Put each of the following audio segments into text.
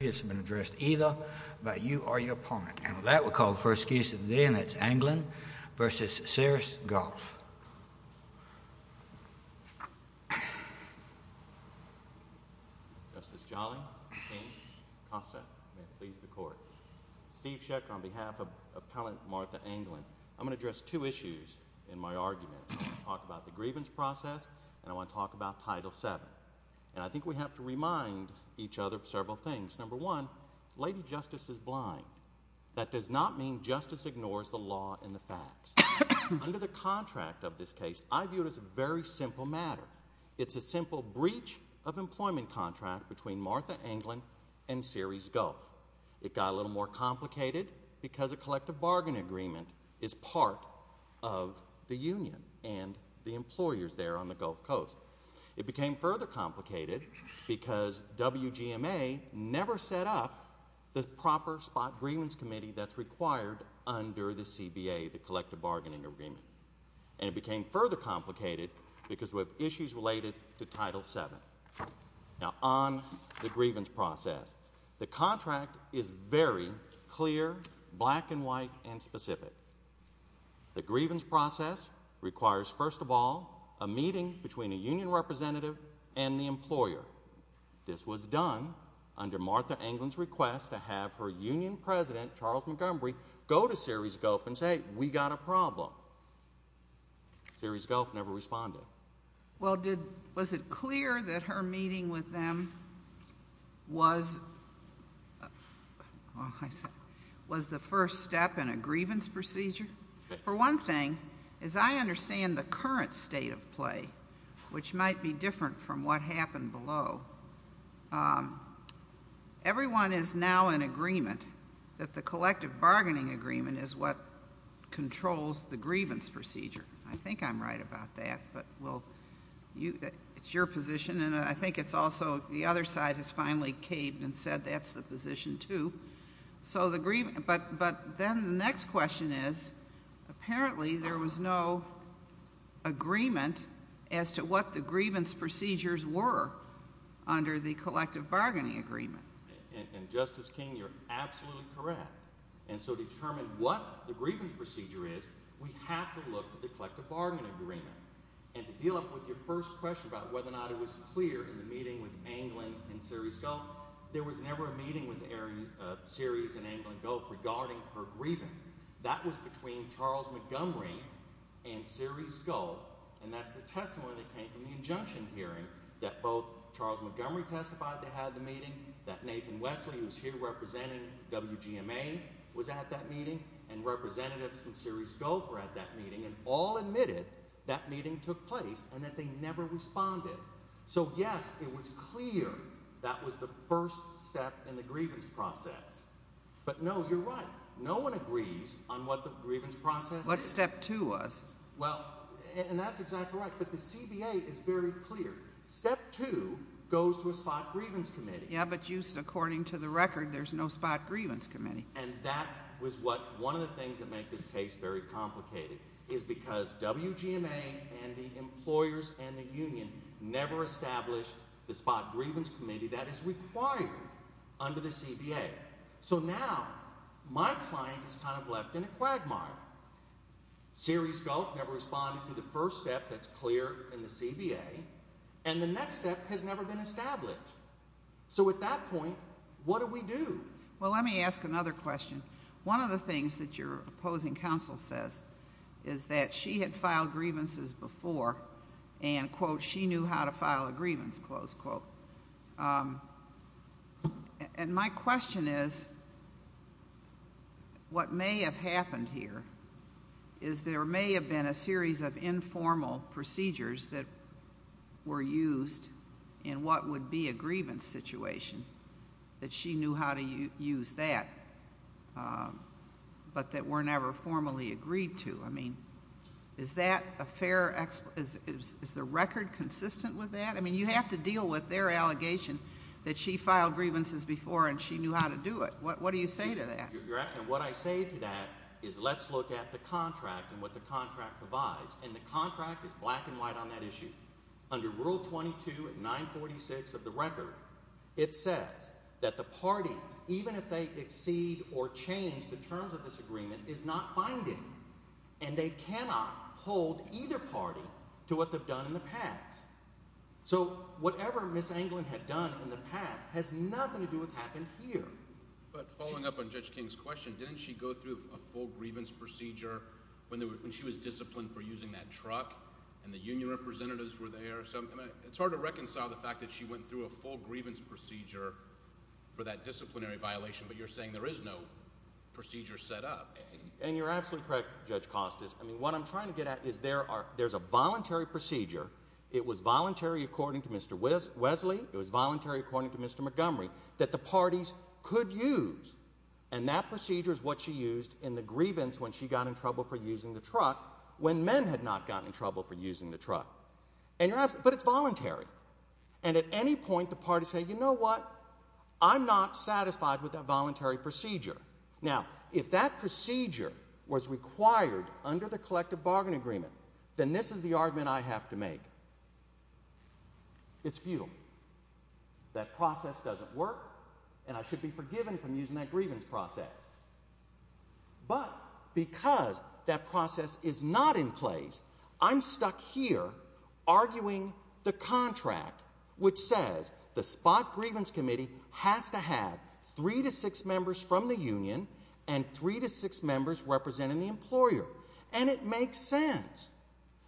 This has been addressed either by you or your opponent, and that we'll call the first case of the day, and that's Anglin v. Ceres Gulf Justice Jolly, King, Costa, may it please the Court Steve Schechter on behalf of Appellant Martha Anglin I'm going to address two issues in my argument I want to talk about the grievance process, and I want to talk about Title VII And I think we have to remind each other of several things Number one, Lady Justice is blind That does not mean Justice ignores the law and the facts Under the contract of this case, I view it as a very simple matter It's a simple breach of employment contract between Martha Anglin and Ceres Gulf It got a little more complicated because a collective bargain agreement is part of the union and the employers there on the Gulf Coast It became further complicated because WGMA never set up the proper spot grievance committee that's required under the CBA, the collective bargaining agreement And it became further complicated because we have issues related to Title VII Now, on the grievance process, the contract is very clear, black and white, and specific The grievance process requires, first of all, a meeting between a union representative and the employer This was done under Martha Anglin's request to have her union president, Charles Montgomery, go to Ceres Gulf and say, we got a problem Ceres Gulf never responded Well, was it clear that her meeting with them was the first step in a grievance procedure? For one thing, as I understand the current state of play, which might be different from what happened below Everyone is now in agreement that the collective bargaining agreement is what controls the grievance procedure I think I'm right about that, but it's your position, and I think it's also the other side has finally caved and said that's the position too But then the next question is, apparently there was no agreement as to what the grievance procedures were under the collective bargaining agreement And Justice King, you're absolutely correct, and so to determine what the grievance procedure is, we have to look at the collective bargaining agreement And to deal with your first question about whether or not it was clear in the meeting with Anglin and Ceres Gulf There was never a meeting with Ceres and Anglin Gulf regarding her grievance That was between Charles Montgomery and Ceres Gulf, and that's the testimony that came from the injunction hearing That both Charles Montgomery testified they had the meeting, that Nathan Wesley, who's here representing WGMA, was at that meeting And representatives from Ceres Gulf were at that meeting, and all admitted that meeting took place and that they never responded So yes, it was clear that was the first step in the grievance process But no, you're right, no one agrees on what the grievance process is What step two was? And that's exactly right, but the CBA is very clear Step two goes to a spot grievance committee Yeah, but according to the record, there's no spot grievance committee And that was one of the things that made this case very complicated Is because WGMA and the employers and the union never established the spot grievance committee that is required under the CBA So now, my client is kind of left in a quagmire Ceres Gulf never responded to the first step that's clear in the CBA And the next step has never been established So at that point, what do we do? Well, let me ask another question One of the things that your opposing counsel says is that she had filed grievances before And, quote, she knew how to file a grievance, close quote And my question is, what may have happened here Is there may have been a series of informal procedures that were used in what would be a grievance situation That she knew how to use that But that were never formally agreed to I mean, is that a fair, is the record consistent with that? I mean, you have to deal with their allegation that she filed grievances before and she knew how to do it What do you say to that? And what I say to that is let's look at the contract and what the contract provides And the contract is black and white on that issue Under Rule 22 and 946 of the record It says that the parties, even if they exceed or change the terms of this agreement, is not binding And they cannot hold either party to what they've done in the past So whatever Ms. Anglin had done in the past has nothing to do with what happened here But following up on Judge King's question, didn't she go through a full grievance procedure When she was disciplined for using that truck and the union representatives were there It's hard to reconcile the fact that she went through a full grievance procedure for that disciplinary violation But you're saying there is no procedure set up And you're absolutely correct, Judge Costas I mean, what I'm trying to get at is there's a voluntary procedure It was voluntary according to Mr. Wesley It was voluntary according to Mr. Montgomery That the parties could use And that procedure is what she used in the grievance when she got in trouble for using the truck When men had not gotten in trouble for using the truck But it's voluntary And at any point the parties say, you know what, I'm not satisfied with that voluntary procedure Now, if that procedure was required under the collective bargain agreement Then this is the argument I have to make It's futile That process doesn't work And I should be forgiven for using that grievance process But because that process is not in place I'm stuck here arguing the contract Which says the spot grievance committee has to have three to six members from the union And three to six members representing the employer And it makes sense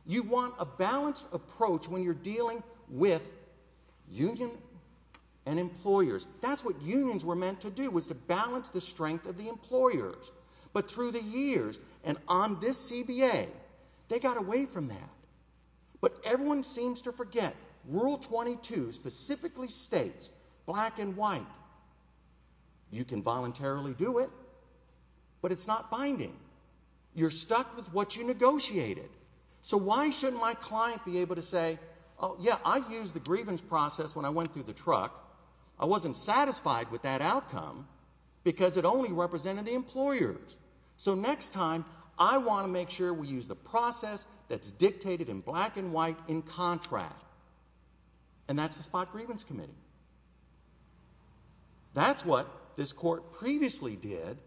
You want a balanced approach when you're dealing with union and employers That's what unions were meant to do Was to balance the strength of the employers But through the years and on this CBA They got away from that But everyone seems to forget Rule 22 specifically states, black and white You can voluntarily do it But it's not binding You're stuck with what you negotiated So why shouldn't my client be able to say Oh yeah, I used the grievance process when I went through the truck I wasn't satisfied with that outcome Because it only represented the employers So next time, I want to make sure we use the process That's dictated in black and white in contract And that's the spot grievance committee That's what this court previously did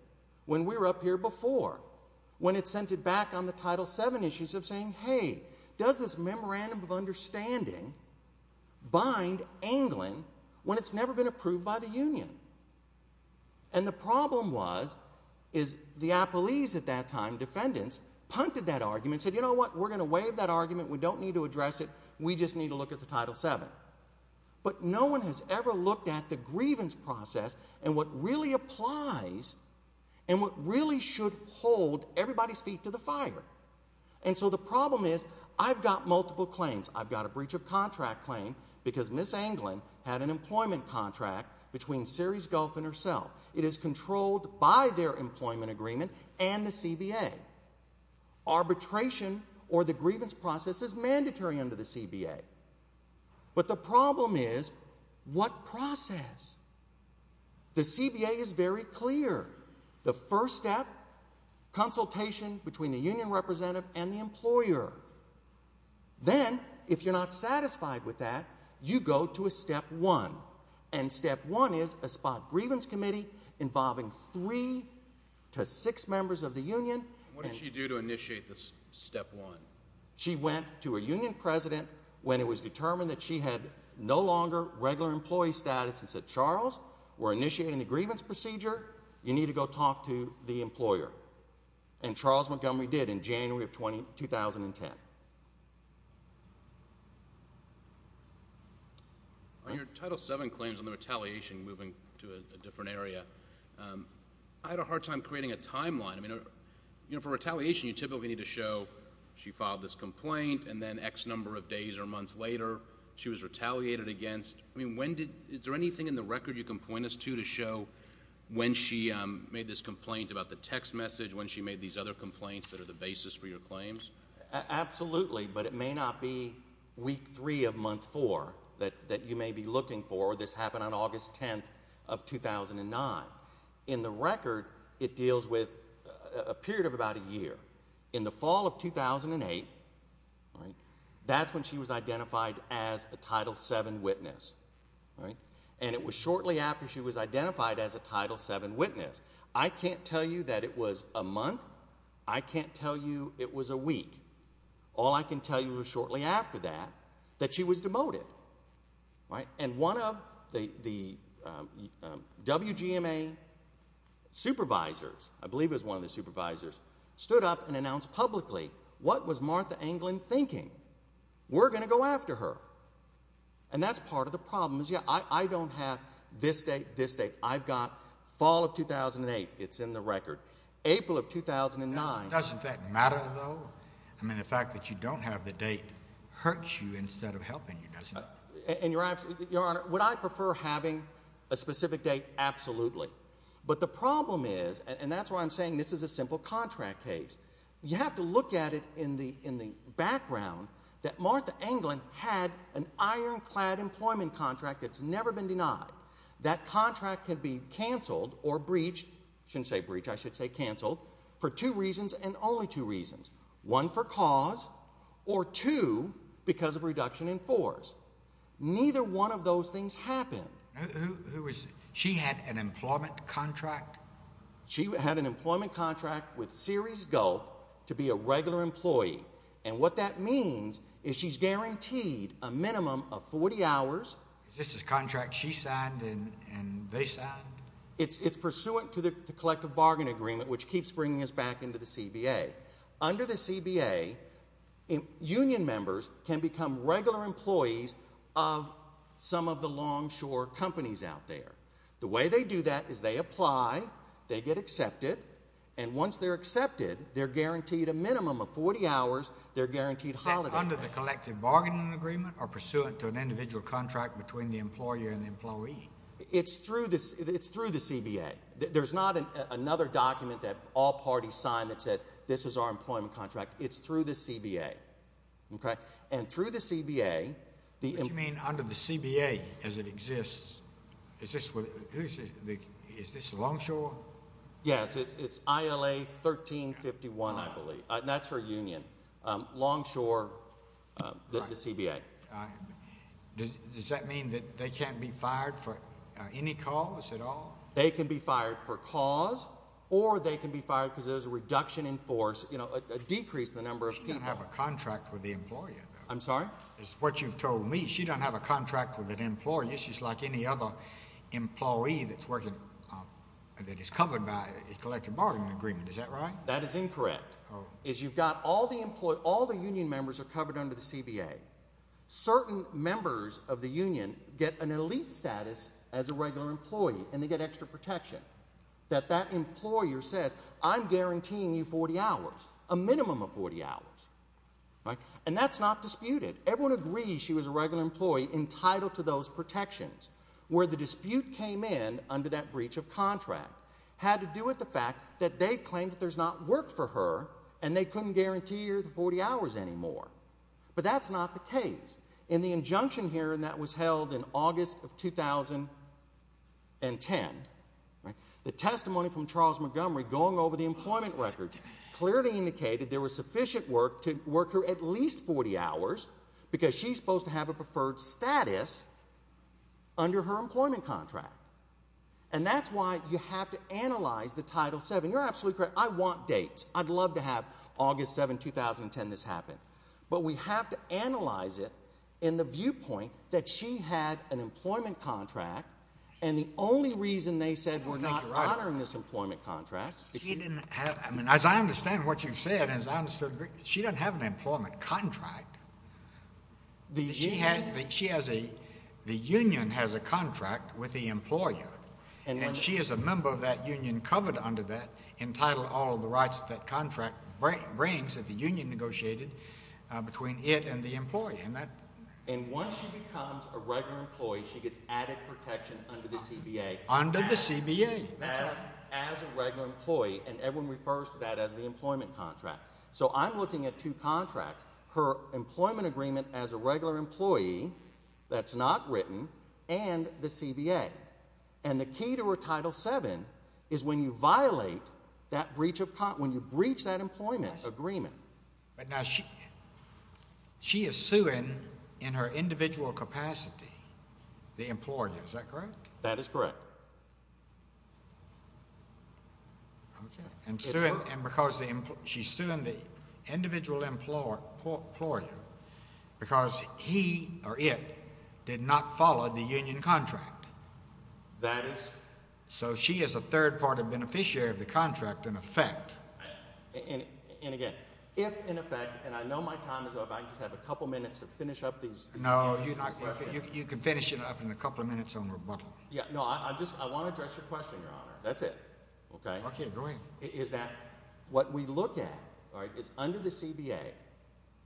When we were up here before When it sent it back on the Title VII issues of saying Hey, does this memorandum of understanding Bind Anglin when it's never been approved by the union And the problem was The appellees at that time, defendants Punted that argument Said you know what, we're going to waive that argument We don't need to address it We just need to look at the Title VII But no one has ever looked at the grievance process And what really applies And what really should hold everybody's feet to the fire And so the problem is I've got multiple claims I've got a breach of contract claim Because Ms. Anglin had an employment contract Between Ceres Gulf and herself It is controlled by their employment agreement And the CBA Arbitration or the grievance process Is mandatory under the CBA But the problem is What process? The CBA is very clear The first step Consultation between the union representative And the employer Then, if you're not satisfied with that You go to a step one And step one is a spot grievance committee Involving three to six members of the union What did she do to initiate this step one? She went to a union president When it was determined that she had No longer regular employee status And said Charles, we're initiating the grievance procedure You need to go talk to the employer And Charles Montgomery did in January of 2010 On your Title VII claims On the retaliation Moving to a different area I had a hard time creating a timeline For retaliation, you typically need to show She filed this complaint And then X number of days or months later She was retaliated against Is there anything in the record you can point us to To show when she made this complaint About the text message When she made these other complaints That are the basis for your claims? Absolutely, but it may not be Week three of month four That you may be looking for Or this happened on August 10th of 2009 In the record, it deals with A period of about a year In the fall of 2008 That's when she was identified As a Title VII witness And it was shortly after she was identified As a Title VII witness I can't tell you that it was a month I can't tell you it was a week All I can tell you is shortly after that That she was demoted And one of the WGMA supervisors I believe it was one of the supervisors Stood up and announced publicly What was Martha Anglin thinking? We're going to go after her And that's part of the problem I don't have this date, this date I've got fall of 2008 It's in the record April of 2009 Doesn't that matter, though? I mean, the fact that you don't have the date Hurts you instead of helping you, doesn't it? Your Honor, would I prefer Having a specific date? Absolutely, but the problem is And that's why I'm saying This is a simple contract case You have to look at it in the background That Martha Anglin had An ironclad employment contract That's never been denied That contract can be canceled Or breached, I shouldn't say breached I should say canceled For two reasons and only two reasons One, for cause Or two, because of reduction in force Neither one of those things happened She had an employment contract? She had an employment contract With Ceres Gulf To be a regular employee And what that means is She's guaranteed a minimum of 40 hours Is this a contract she signed And they signed? It's pursuant to the collective bargain agreement Which keeps bringing us back into the CBA Under the CBA Union members Can become regular employees Of some of the longshore Companies out there The way they do that is they apply They get accepted And once they're accepted They're guaranteed a minimum of 40 hours They're guaranteed holiday Is that under the collective bargaining agreement Or pursuant to an individual contract Between the employer and the employee? It's through the CBA There's not another document That all parties signed that said This is our employment contract It's through the CBA And through the CBA What do you mean under the CBA as it exists? Is this longshore? Yes, it's ILA 1351 I believe That's her union Longshore The CBA Does that mean that they can't be fired For any cause at all? They can be fired for cause Or they can be fired Because there's a reduction in force A decrease in the number of people She doesn't have a contract with the employer I'm sorry? It's what you've told me She doesn't have a contract with an employer She's like any other employee that's working That is covered by a collective bargaining agreement Is that right? That is incorrect All the union members are covered under the CBA Certain members of the union Get an elite status As a regular employee And they get extra protection That that employer says I'm guaranteeing you 40 hours A minimum of 40 hours And that's not disputed Everyone agrees she was a regular employee Entitled to those protections Where the dispute came in Under that breach of contract Had to do with the fact that they claimed That there's not work for her And they couldn't guarantee her the 40 hours anymore But that's not the case In the injunction here And that was held in August of 2010 The testimony from Charles Montgomery Going over the employment records Clearly indicated there was sufficient work To work her at least 40 hours Because she's supposed to have a preferred status Under her employment contract And that's why you have to Analyze the Title VII You're absolutely correct I want dates I'd love to have August 7, 2010 this happen But we have to analyze it In the viewpoint that she had An employment contract And the only reason they said We're not honoring this employment contract She didn't have As I understand what you've said She doesn't have an employment contract She has a The union has a contract With the employer And she is a member of that union Covered under that Entitled all of the rights that contract brings That the union negotiated Between it and the employer And once she becomes a regular employee She gets added protection under the CBA Under the CBA As a regular employee And everyone refers to that as the employment contract So I'm looking at two contracts Her employment agreement As a regular employee That's not written And the CBA And the key to her Title VII Is when you violate that breach of When you breach that employment agreement But now she She is suing In her individual capacity The employer, is that correct? That is correct And because She's suing the Individual employer Because he Or it did not follow The union contract That is So she is a third party beneficiary of the contract In effect And again, if in effect And I know my time is up I just have a couple minutes to finish up these No, I just I want to address your question, Your Honor That's it Is that what we look at Is under the CBA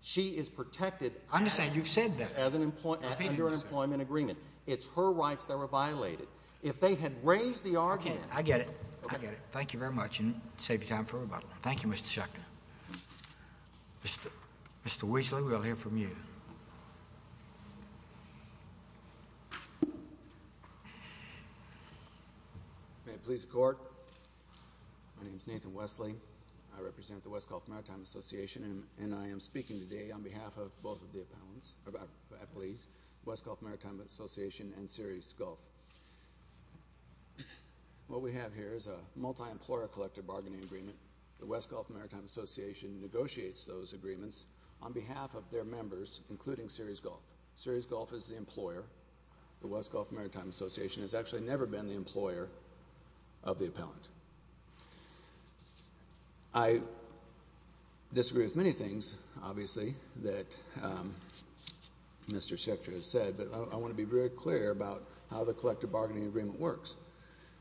She is protected As an Under an employment agreement It's her rights that were violated If they had raised the argument Thank you very much Thank you, Mr. Schechter Mr. Weasley We'll hear from you Mr. Court My name is Nathan Weasley I represent the West Gulf Maritime Association And I am speaking today on behalf of Both of the appellants West Gulf Maritime Association And Ceres Gulf What we have here Is a multi-employer collective bargaining agreement The West Gulf Maritime Association Negotiates those agreements On behalf of their members Including Ceres Gulf Ceres Gulf is the employer The West Gulf Maritime Association Has actually never been the employer Of the appellant I Disagree with many things Obviously that Mr. Schechter Has said but I want to be very clear about How the collective bargaining agreement works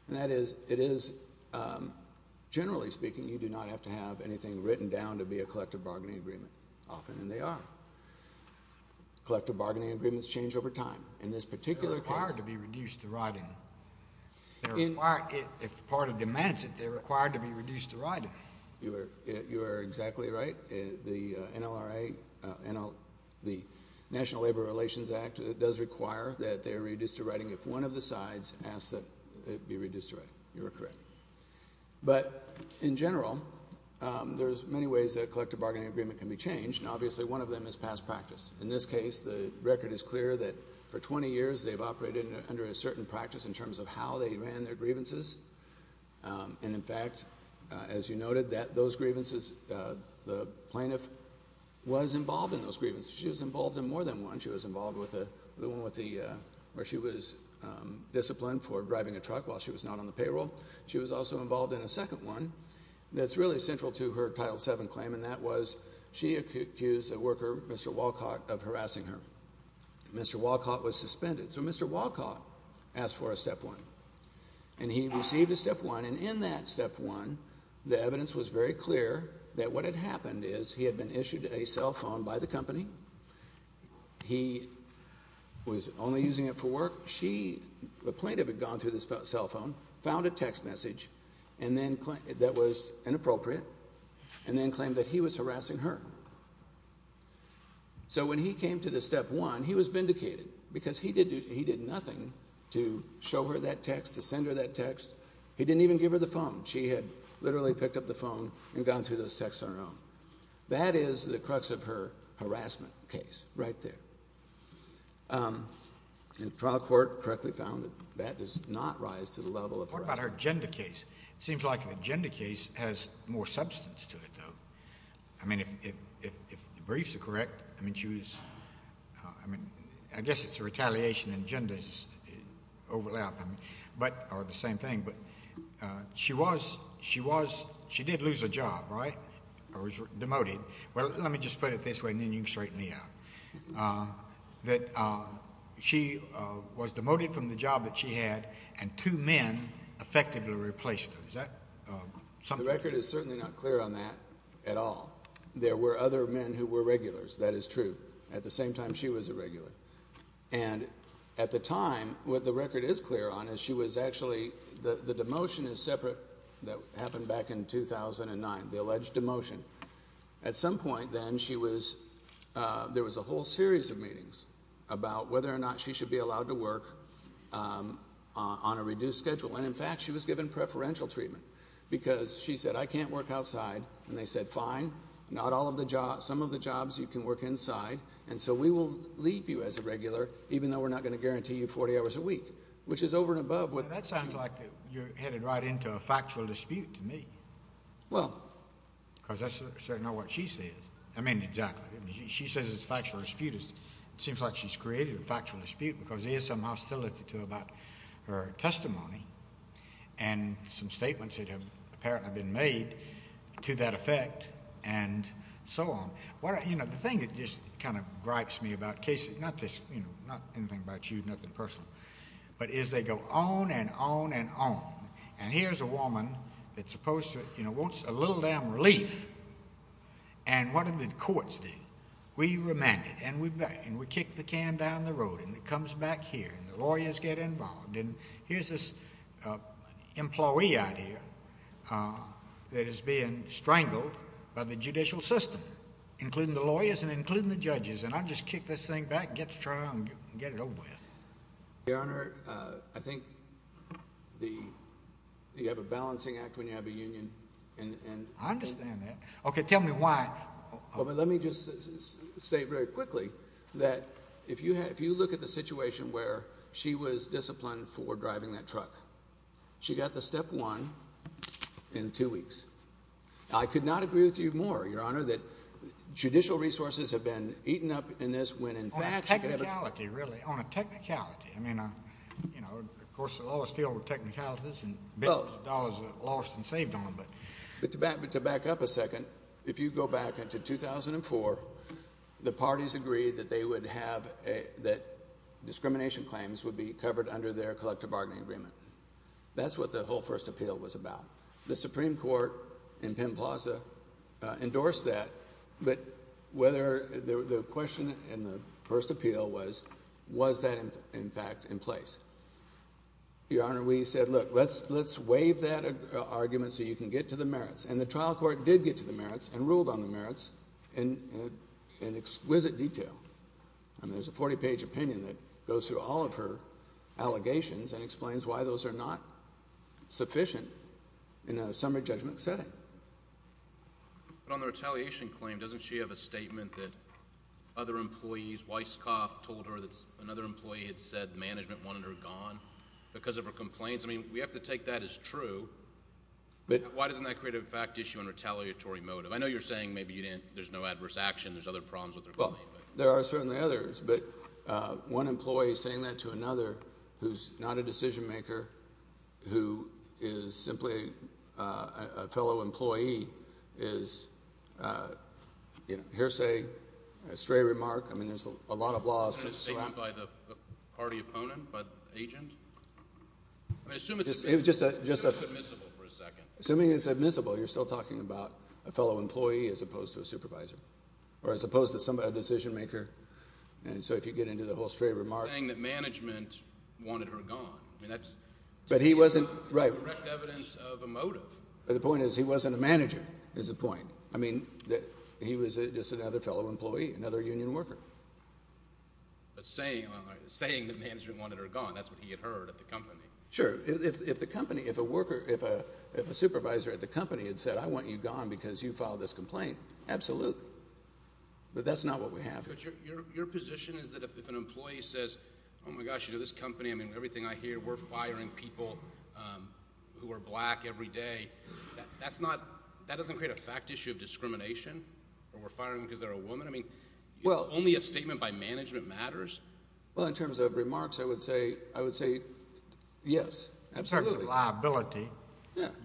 And that is Generally speaking You do not have to have anything written down To be a collective bargaining agreement Often they are Collective bargaining agreements change over time In this particular case They are required to be reduced to writing If the party demands it They are required to be reduced to writing You are exactly right The NLRA The National Labor Relations Act Does require that they are reduced to writing If one of the sides Asks that it be reduced to writing You are correct But in general There are many ways that a collective bargaining agreement can be changed Obviously one of them is past practice In this case the record is clear that For 20 years they have operated under a certain Practice in terms of how they ran their Grievances And in fact as you noted Those grievances The plaintiff was involved in those Grievances. She was involved in more than one She was involved with the one Where she was disciplined For driving a truck while she was not on the payroll She was also involved in a second one That is really central to her title 7 Claim and that was she accused A worker Mr. Walcott of harassing her Mr. Walcott was suspended So Mr. Walcott Asked for a step 1 And he received a step 1 and in that step 1 The evidence was very clear That what had happened is He had been issued a cell phone by the company He Was only using it for work She, the plaintiff had gone through The cell phone, found a text message That was inappropriate And then claimed that he was harassing her So when he came to the step 1 He was vindicated because he did Nothing to show her that text To send her that text He didn't even give her the phone She had literally picked up the phone And gone through those texts on her own That is the crux of her harassment case Right there And the trial court correctly found That that does not rise to the level Of harassment In the gender case It seems like the gender case Has more substance to it I mean if the briefs are correct I mean she was I guess it's a retaliation In gender's overlap Or the same thing But she was She did lose a job right Or was demoted Well let me just put it this way And then you can straighten me out That she was demoted from the job That she had and two men Effectively replaced her The record is certainly not clear on that At all There were other men who were regulars That is true At the same time she was a regular And at the time what the record is clear on Is she was actually The demotion is separate That happened back in 2009 The alleged demotion At some point then she was There was a whole series of meetings About whether or not she should be allowed to work On a reduced schedule And in fact she was given preferential treatment Because she said I can't work outside And they said fine Some of the jobs you can work inside And so we will leave you as a regular Even though we're not going to guarantee you 40 hours a week Which is over and above That sounds like you're headed right into a factual dispute To me Well Because that's certainly not what she says I mean exactly She says it's a factual dispute It seems like she's created a factual dispute Because there is some hostility about her testimony And some statements That have apparently been made To that effect And so on The thing that just kind of gripes me About cases Not anything about you, nothing personal But is they go on and on and on And here's a woman That's supposed to You know wants a little damn relief And what do the courts do? We remand it And we kick the can down the road And it comes back here And the lawyers get involved And here's this employee out here That is being strangled By the judicial system Including the lawyers And including the judges And I just kick this thing back And get it over with Your honor Your honor I think You have a balancing act when you have a union I understand that Tell me why Let me just state very quickly That if you look at the situation Where she was disciplined For driving that truck She got the step one In two weeks I could not agree with you more Your honor that judicial resources Have been eaten up in this On a technicality I mean Of course the law is still Technicalities To back up a second If you go back Into 2004 The parties agreed That discrimination claims Would be covered under their collective bargaining agreement That's what the whole first appeal Was about The supreme court Endorsed that But whether The question in the first appeal Was that in fact In place Your honor we said look Let's waive that argument so you can get to the merits And the trial court did get to the merits And ruled on the merits In exquisite detail And there's a 40 page opinion That goes through all of her Allegations and explains why those are not Sufficient In a summary judgment setting But on the retaliation Claim doesn't she have a statement That other employees Weisskopf told her that another employee Had said management wanted her gone Because of her complaints I mean we have to take that as true But why doesn't that create a fact issue And retaliatory motive I know you're saying maybe there's no adverse action There's other problems with her Well there are certainly others But one employee saying that to another Who's not a decision maker Who is simply A fellow employee Is A hearsay A stray remark There's a lot of laws By the party opponent By the agent Assuming it's admissible Assuming it's admissible You're still talking about a fellow employee As opposed to a supervisor Or as opposed to a decision maker And so if you get into the whole stray remark You're saying that management Wanted her gone But he wasn't The point is he wasn't a manager Is the point He was just another fellow employee Another union worker But saying That management wanted her gone That's what he had heard at the company If a supervisor at the company Had said I want you gone because you filed this complaint Absolutely But that's not what we have Your position is that if an employee Says oh my gosh you know this company I mean everything I hear we're firing people Who are black Every day That doesn't create a fact issue of discrimination Or we're firing them because they're a woman I mean only a statement by management Matters Well in terms of remarks I would say Yes absolutely In terms of liability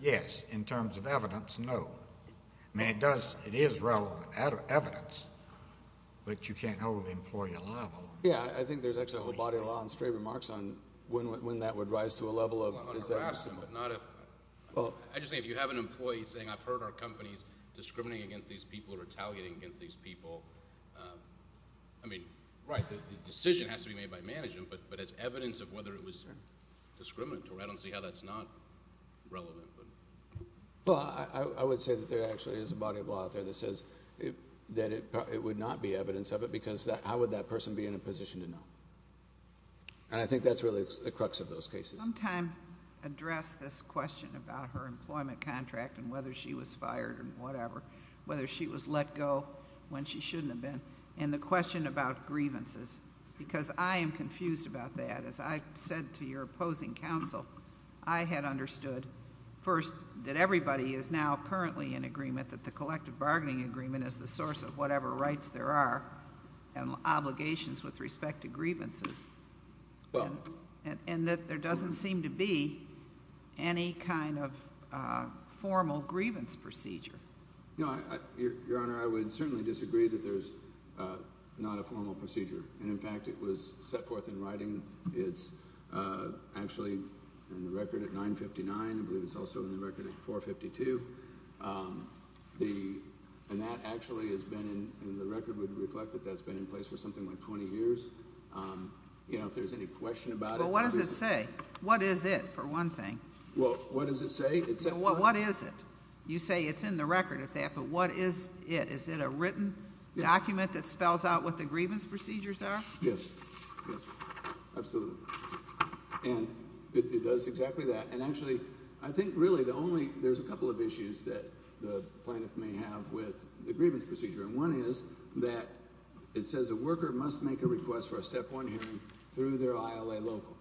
yes In terms of evidence no I mean it is relevant Evidence But you can't hold an employee alive Yeah I think there's actually a whole body of law On stray remarks on when that would rise To a level of I just think if you have an employee Saying I've heard our company's discriminating Against these people or retaliating against these people I mean Right the decision has to be made by management But it's evidence of whether it was Discriminatory I don't see how that's not Relevant Well I would say that there That it would not be evidence of it Because how would that person be in a position to know And I think that's really the crux of those cases Sometime address this question About her employment contract And whether she was fired and whatever Whether she was let go When she shouldn't have been And the question about grievances Because I am confused about that As I said to your opposing counsel I had understood First that everybody is now currently in agreement That the collective bargaining agreement Is the source of whatever rights there are And obligations with respect to Grievances And that there doesn't seem to be Any kind of Formal Grievance procedure Your honor I would certainly disagree that there's Not a formal procedure And in fact it was set forth in writing It's Actually in the record at 959 I believe it's also in the record at 9452 And that actually has been In the record would reflect that's been in place For something like 20 years You know if there's any question about it Well what does it say What is it for one thing Well what does it say What is it you say it's in the record at that But what is it is it a written Document that spells out what the grievance procedures are Yes Absolutely And it does exactly that And actually I think really the only There's a couple of issues that the Plaintiff may have with the grievance Procedure and one is that It says a worker must make a request For a step one hearing through their ILA Local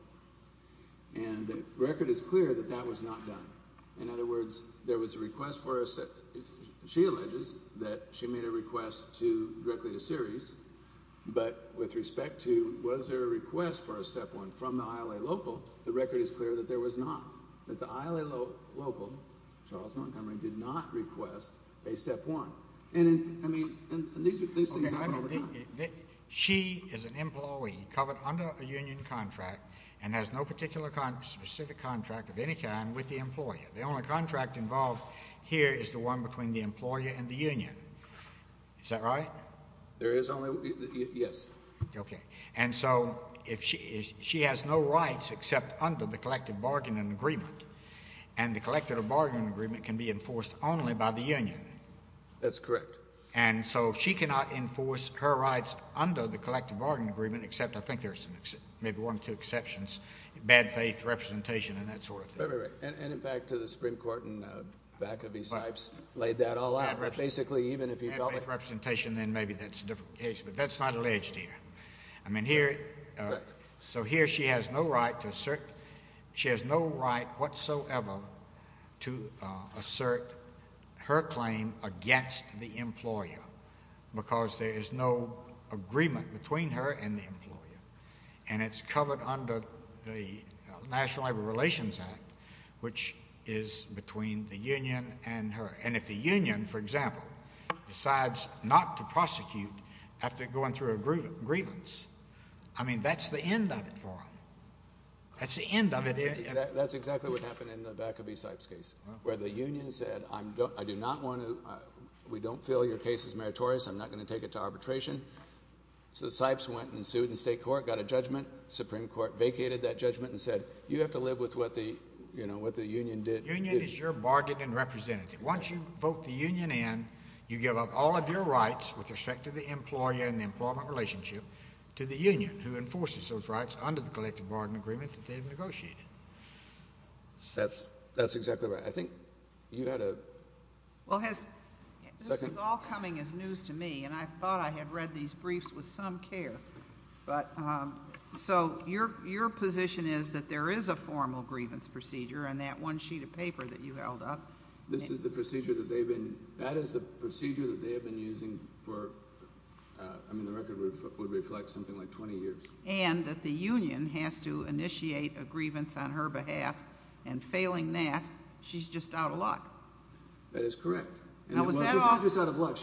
And the record is clear that that was not done In other words there was a request For a step she alleges That she made a request to Directly to series But with respect to was there a request For a step one from the ILA local The record is clear that there was not That the ILA local Charles Montgomery did not request A step one And these things happen all the time She is an employee Covered under a union contract And has no particular Specific contract of any kind with the employer The only contract involved here Is the one between the employer and the union Is that right There is only yes Okay and so If she has no rights Except under the collective bargaining Agreement and the collective Bargaining agreement can be enforced only by The union that's correct And so she cannot enforce Her rights under the collective bargaining Agreement except I think there's maybe one Two exceptions bad faith Representation and that sort of thing And in fact to the Supreme Court And back of these types laid that all out Basically even if you felt with representation Then maybe that's a different case but that's not Alleged here I mean here So here she has no right To assert she has no right Whatsoever To assert Her claim against the Employer because there is No agreement between her And the employer and it's Covered under the National relations act Which is between the union And her and if the union for example Decides not to I mean that's the End of it That's the end of it That's exactly what happened in the back of these types Where the union said I do not Want to we don't feel your case Is meritorious I'm not going to take it to arbitration So the types went and sued In state court got a judgment Supreme court vacated that judgment and said You have to live with what the union Did union is your bargaining Representative once you vote the union in You give up all of your rights With respect to the employer and the employment Relationship to the union who enforces Those rights under the collective bargaining agreement That they've negotiated That's that's exactly right I think you had a Well has All coming as news to me and I thought I had Read these briefs with some care But so Your your position is that there is A formal grievance procedure and that one Sheet of paper that you held up This is the procedure that they've been That is the procedure that they have been using For I mean the record Would reflect something like 20 years And that the union has to Initiate a grievance on her behalf And failing that She's just out of luck That is correct She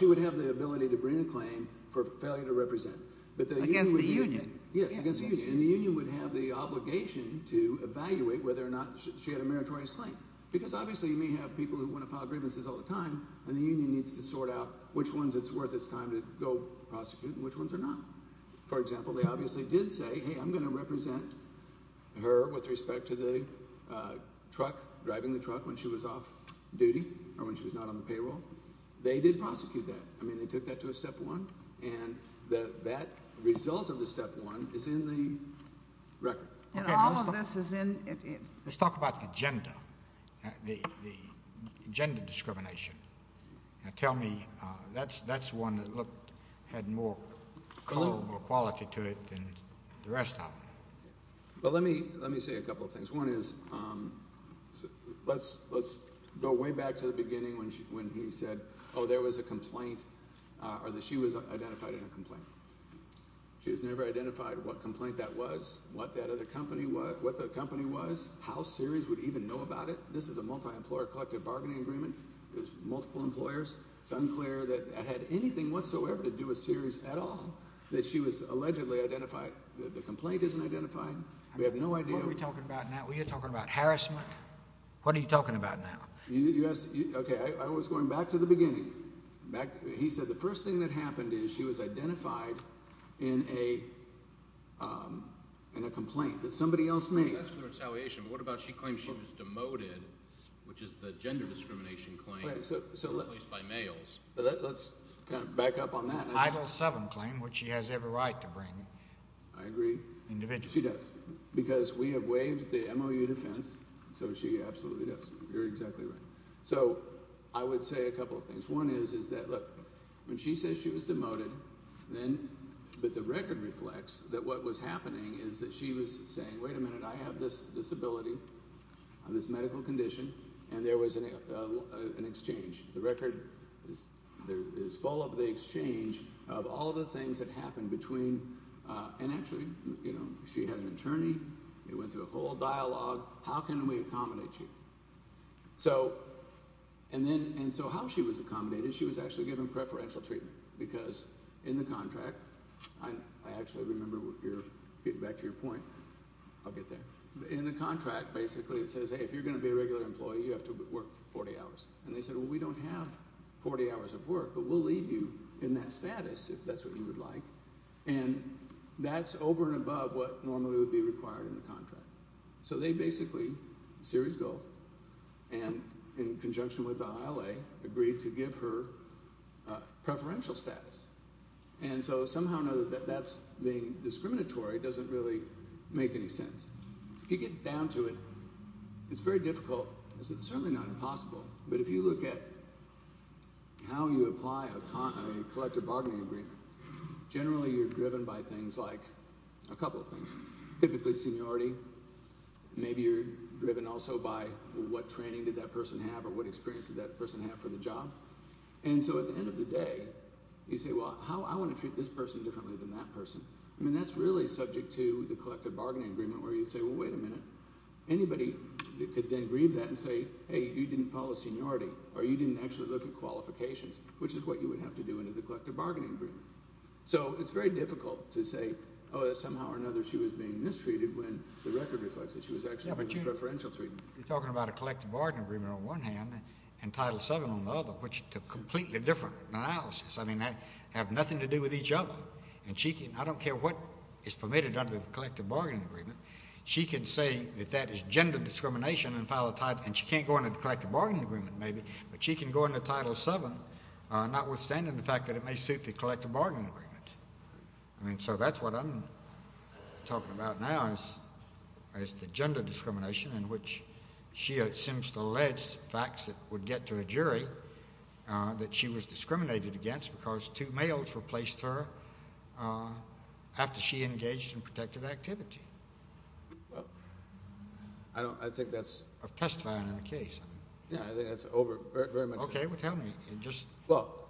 would have the ability to bring a claim For failure to represent but Against the union yes You would have the obligation to Evaluate whether or not she had a meritorious Claim because obviously you may have people Who want to file grievances all the time and the Union needs to sort out which ones it's worth It's time to go prosecute and which ones Are not for example they obviously Did say hey I'm going to represent Her with respect to the Truck driving the truck when She was off duty or when she Was not on the payroll they did prosecute That I mean they took that to a step one And the that result Of the step one is in the Record and all of this is In it let's talk about the agenda The agenda Discrimination Tell me that's that's one That looked had more Quality to it than The rest of them Let me let me say a couple of things one is Let's Go way back to the beginning when She when he said oh there was a complaint Or that she was identified In a complaint she was Never identified what complaint that was What that other company was what the company Was how series would even know about It this is a multi-employer collective bargaining Agreement there's multiple employers It's unclear that I had anything whatsoever To do a series at all That she was allegedly identified The complaint isn't identifying we have No idea we're talking about now we're talking about Harassment what are you talking about Now yes okay I was Going back to the beginning back He said the first thing that happened is she was Identified in a In a What about she claims she was demoted Which is the gender discrimination Claim so let me Let's kind of back up on that Item seven claim which she has every right To bring I agree Individually does because we have Waves the MOU defense so She absolutely does you're exactly right So I would say a couple Of things one is is that look when She says she was demoted then But the record reflects that What was happening is that she was Saying wait a minute I have this disability On this medical condition And there was an Exchange the record Is full of the exchange Of all the things that happened between And actually you know She had an attorney it went through A whole dialogue how can we accommodate You so And then and so how she Was accommodated she was actually given preferential Treatment because in the contract I actually remember You're getting back to your point I'll get there in the contract Basically it says hey if you're going to be a regular employee You have to work 40 hours and they said Well we don't have 40 hours of work But we'll leave you in that status If that's what you would like and That's over and above what Normally would be required in the contract So they basically series Go and in Conjunction with the ILA agreed to Give her preferential Status and so Somehow or another that's being discriminatory Doesn't really make any sense If you get down to it It's very difficult It's certainly not impossible but if you look at How you Apply a collective bargaining agreement Generally you're driven by Things like a couple of things Typically seniority Maybe you're driven also by What training did that person have Or what experience did that person have for the job And so at the end of the day You say well I want to treat this person Differently than that person I mean that's really subject to the collective bargaining agreement Where you say well wait a minute Anybody could then grieve that and say Hey you didn't follow seniority Or you didn't actually look at qualifications Which is what you would have to do into the collective bargaining agreement So it's very difficult To say oh somehow or another She was being mistreated when the record reflects That she was actually being preferential treated You're talking about a collective bargaining agreement on one hand And title 7 on the other Which is a completely different analysis I mean they have nothing to do with each other And she can, I don't care what Is permitted under the collective bargaining agreement She can say that that is Gender discrimination and file a title And she can't go into the collective bargaining agreement maybe But she can go into title 7 Notwithstanding the fact that it may suit the Collective bargaining agreement Talking about now Is the gender discrimination in which She seems to allege That there are various facts that would get to a jury That she was discriminated against Because two males replaced her After she engaged in Protective activity I think that's Testifying in a case Yeah I think that's over Okay well tell me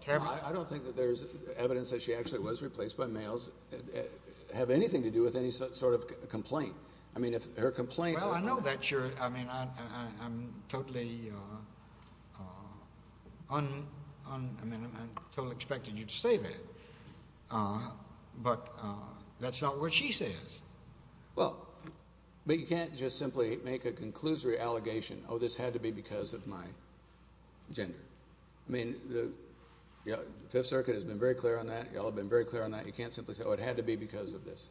I don't think that there's evidence That she actually was replaced by males Have anything to do with any sort of complaint I mean if her complaint Well I know that you're I mean I'm totally I mean I totally expected you To say that But that's not what she says Well But you can't just simply make a Conclusory allegation oh this had to be Because of my gender I mean the Fifth circuit has been very clear on that Y'all have been very clear on that you can't simply say Oh it had to be because of this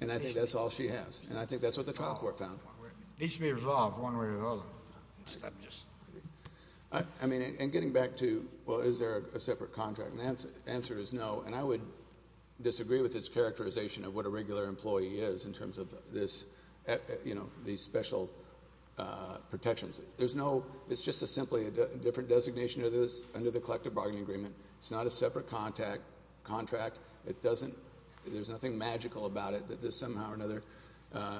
And I think that's all she has And I think that's what the trial court found It needs to be resolved one way or another I mean and getting back to Well is there a separate contract The answer is no and I would Disagree with this characterization of what a regular Employee is in terms of this You know these special Protections there's no It's just a simply a different designation Of this under the collective bargaining agreement It's not a separate contract It doesn't There's nothing magical about it That this somehow or another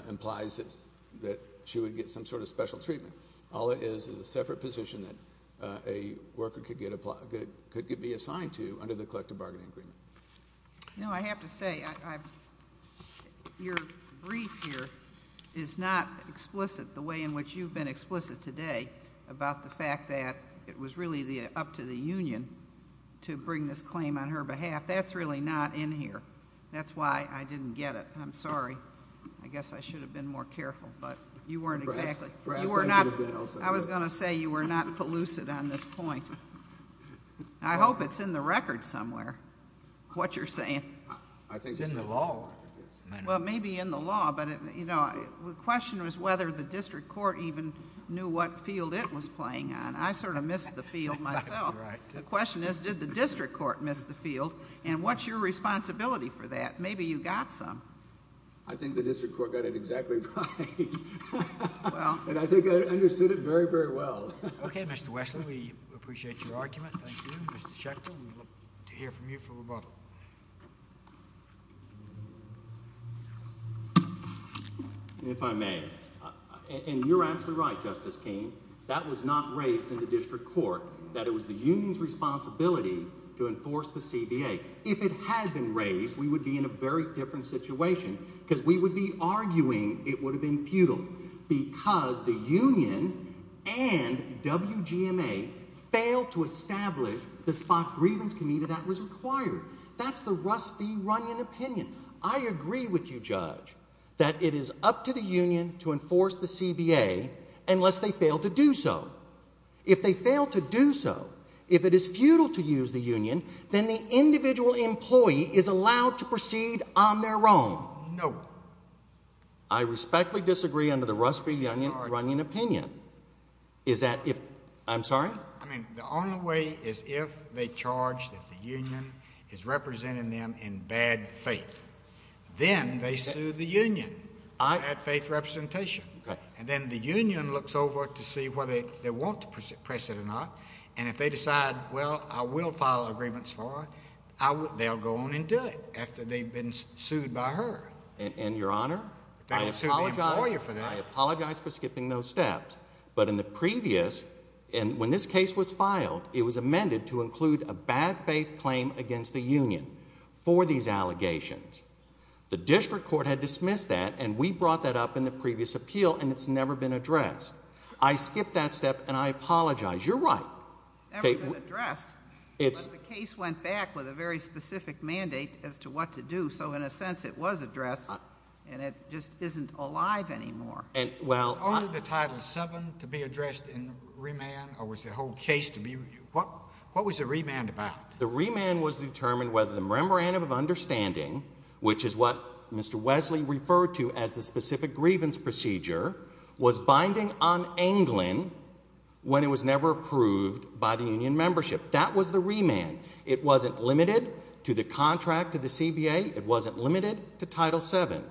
implies That she would get some sort of special treatment All it is is a separate position That a worker could get Could be assigned to Under the collective bargaining agreement You know I have to say Your brief here Is not explicit The way in which you've been explicit today About the fact that It was really up to the union To bring this claim on her behalf That's really not in here That's why I didn't get it I'm sorry I guess I should have been more careful But you weren't exactly I was going to say You were not pellucid on this point I hope it's in the record Somewhere What you're saying Well maybe in the law But you know the question was whether The district court even knew what Field it was playing on I sort of missed the field myself The question is Did the district court miss the field And what's your responsibility for that Maybe you got some I think the district court got it exactly right And I think I understood it very very well Okay Mr. Wessler We appreciate your argument Thank you Mr. Schechter We look to hear from you for rebuttal If I may And you're absolutely right Justice King That was not raised in the district court That it was the union's responsibility To enforce the CBA If it had been raised We would be in a very different situation Because we would be arguing It would have been futile Because the union and WGMA Failed to establish The spot grievance committee That was required That's the Russ B. Runyon opinion I agree with you Judge That it is up to the union To enforce the CBA Unless they fail to do so If they fail to do so If it is futile to use the union Then the individual employee Is allowed to proceed on their own No I respectfully disagree Under the Russ B. Runyon opinion Is that if I'm sorry The only way is if they charge That the union is representing them In bad faith Then they sue the union For bad faith representation And then the union looks over To see whether they want to press it or not And if they decide Well I will file agreements for her They'll go on and do it After they've been sued by her And your honor I apologize for skipping those steps But in the previous And when this case was filed It was amended to include a bad faith Claim against the union For these allegations The district court had dismissed that And we brought that up in the previous appeal And it's never been addressed I skipped that step and I apologize You're right The case went back with a very Specific mandate as to what to do So in a sense it was addressed And it just isn't alive anymore Is only the title 7 To be addressed in remand What was the remand about? The remand was to determine Whether the memorandum of understanding Which is what Mr. Wesley referred to As the specific grievance procedure Was binding on England When it was never approved By the union membership That was the remand It wasn't limited to the contract To the CBA It wasn't limited to title 7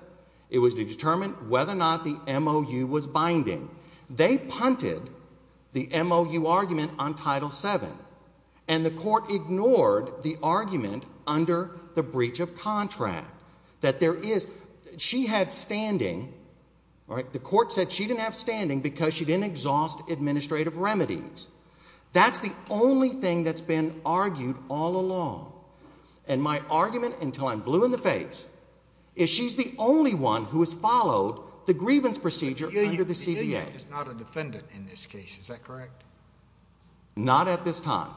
It was to determine whether or not The MOU was binding They punted The MOU argument on title 7 And the court ignored The argument under The breach of contract That there is She had standing The court said she didn't have standing Because she didn't exhaust administrative remedies That's the only thing That's been argued all along And my argument Until I'm blue in the face Is she's the only one who has followed The grievance procedure under the CBA The union is not a defendant in this case Is that correct? Not at this time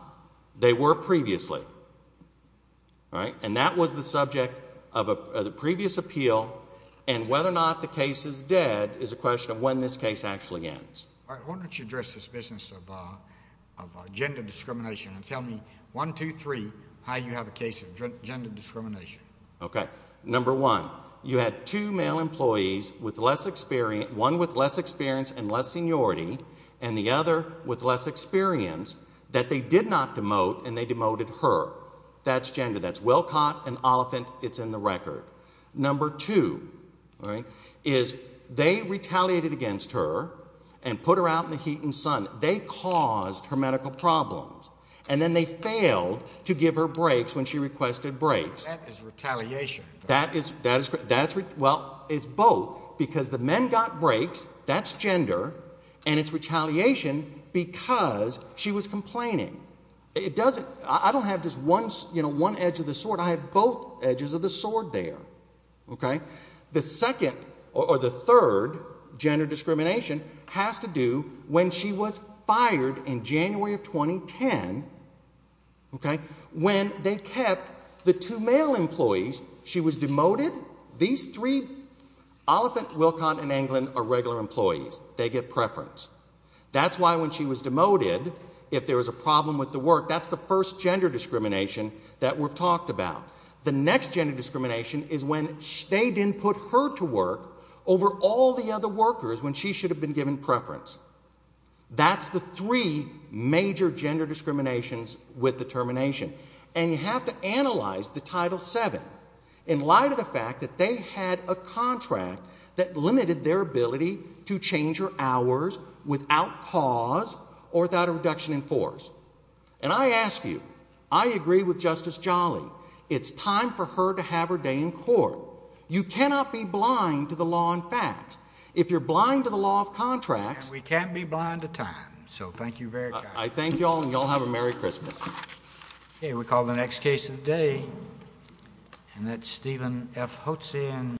They were previously And that was the subject Of the previous appeal And whether or not the case is dead Is a question of when this case actually ends Why don't you address this business Of gender discrimination And tell me 1, 2, 3 How you have a case of gender discrimination Okay Number one You had two male employees One with less experience and less seniority And the other with less experience That they did not demote And they demoted her That's gender That's Wilcott and Oliphant It's in the record Number two Is they retaliated against her And put her out in the heat and sun They caused her medical problems And then they failed to give her breaks That's when she requested breaks That is retaliation Well it's both Because the men got breaks That's gender And it's retaliation because She was complaining I don't have just one edge of the sword I have both edges of the sword there Okay The second or the third Gender discrimination Has to do when she was fired In January of 2010 Okay When they kept the two male employees She was demoted These three Oliphant, Wilcott and Anglin are regular employees They get preference That's why when she was demoted If there was a problem with the work That's the first gender discrimination That we've talked about The next gender discrimination is when They didn't put her to work Over all the other workers When she should have been given preference That's the three Major gender discriminations With the termination And you have to analyze the Title 7 In light of the fact that they Had a contract that Limited their ability to change Her hours without cause Or without a reduction in force And I ask you I agree with Justice Jolly It's time for her to have her day in court You cannot be blind To the law and facts If you're blind to the law of contracts And we can't be blind to time So thank you very much I thank you all and you all have a Merry Christmas Okay we call the next case of the day And that's Stephen F. Hotze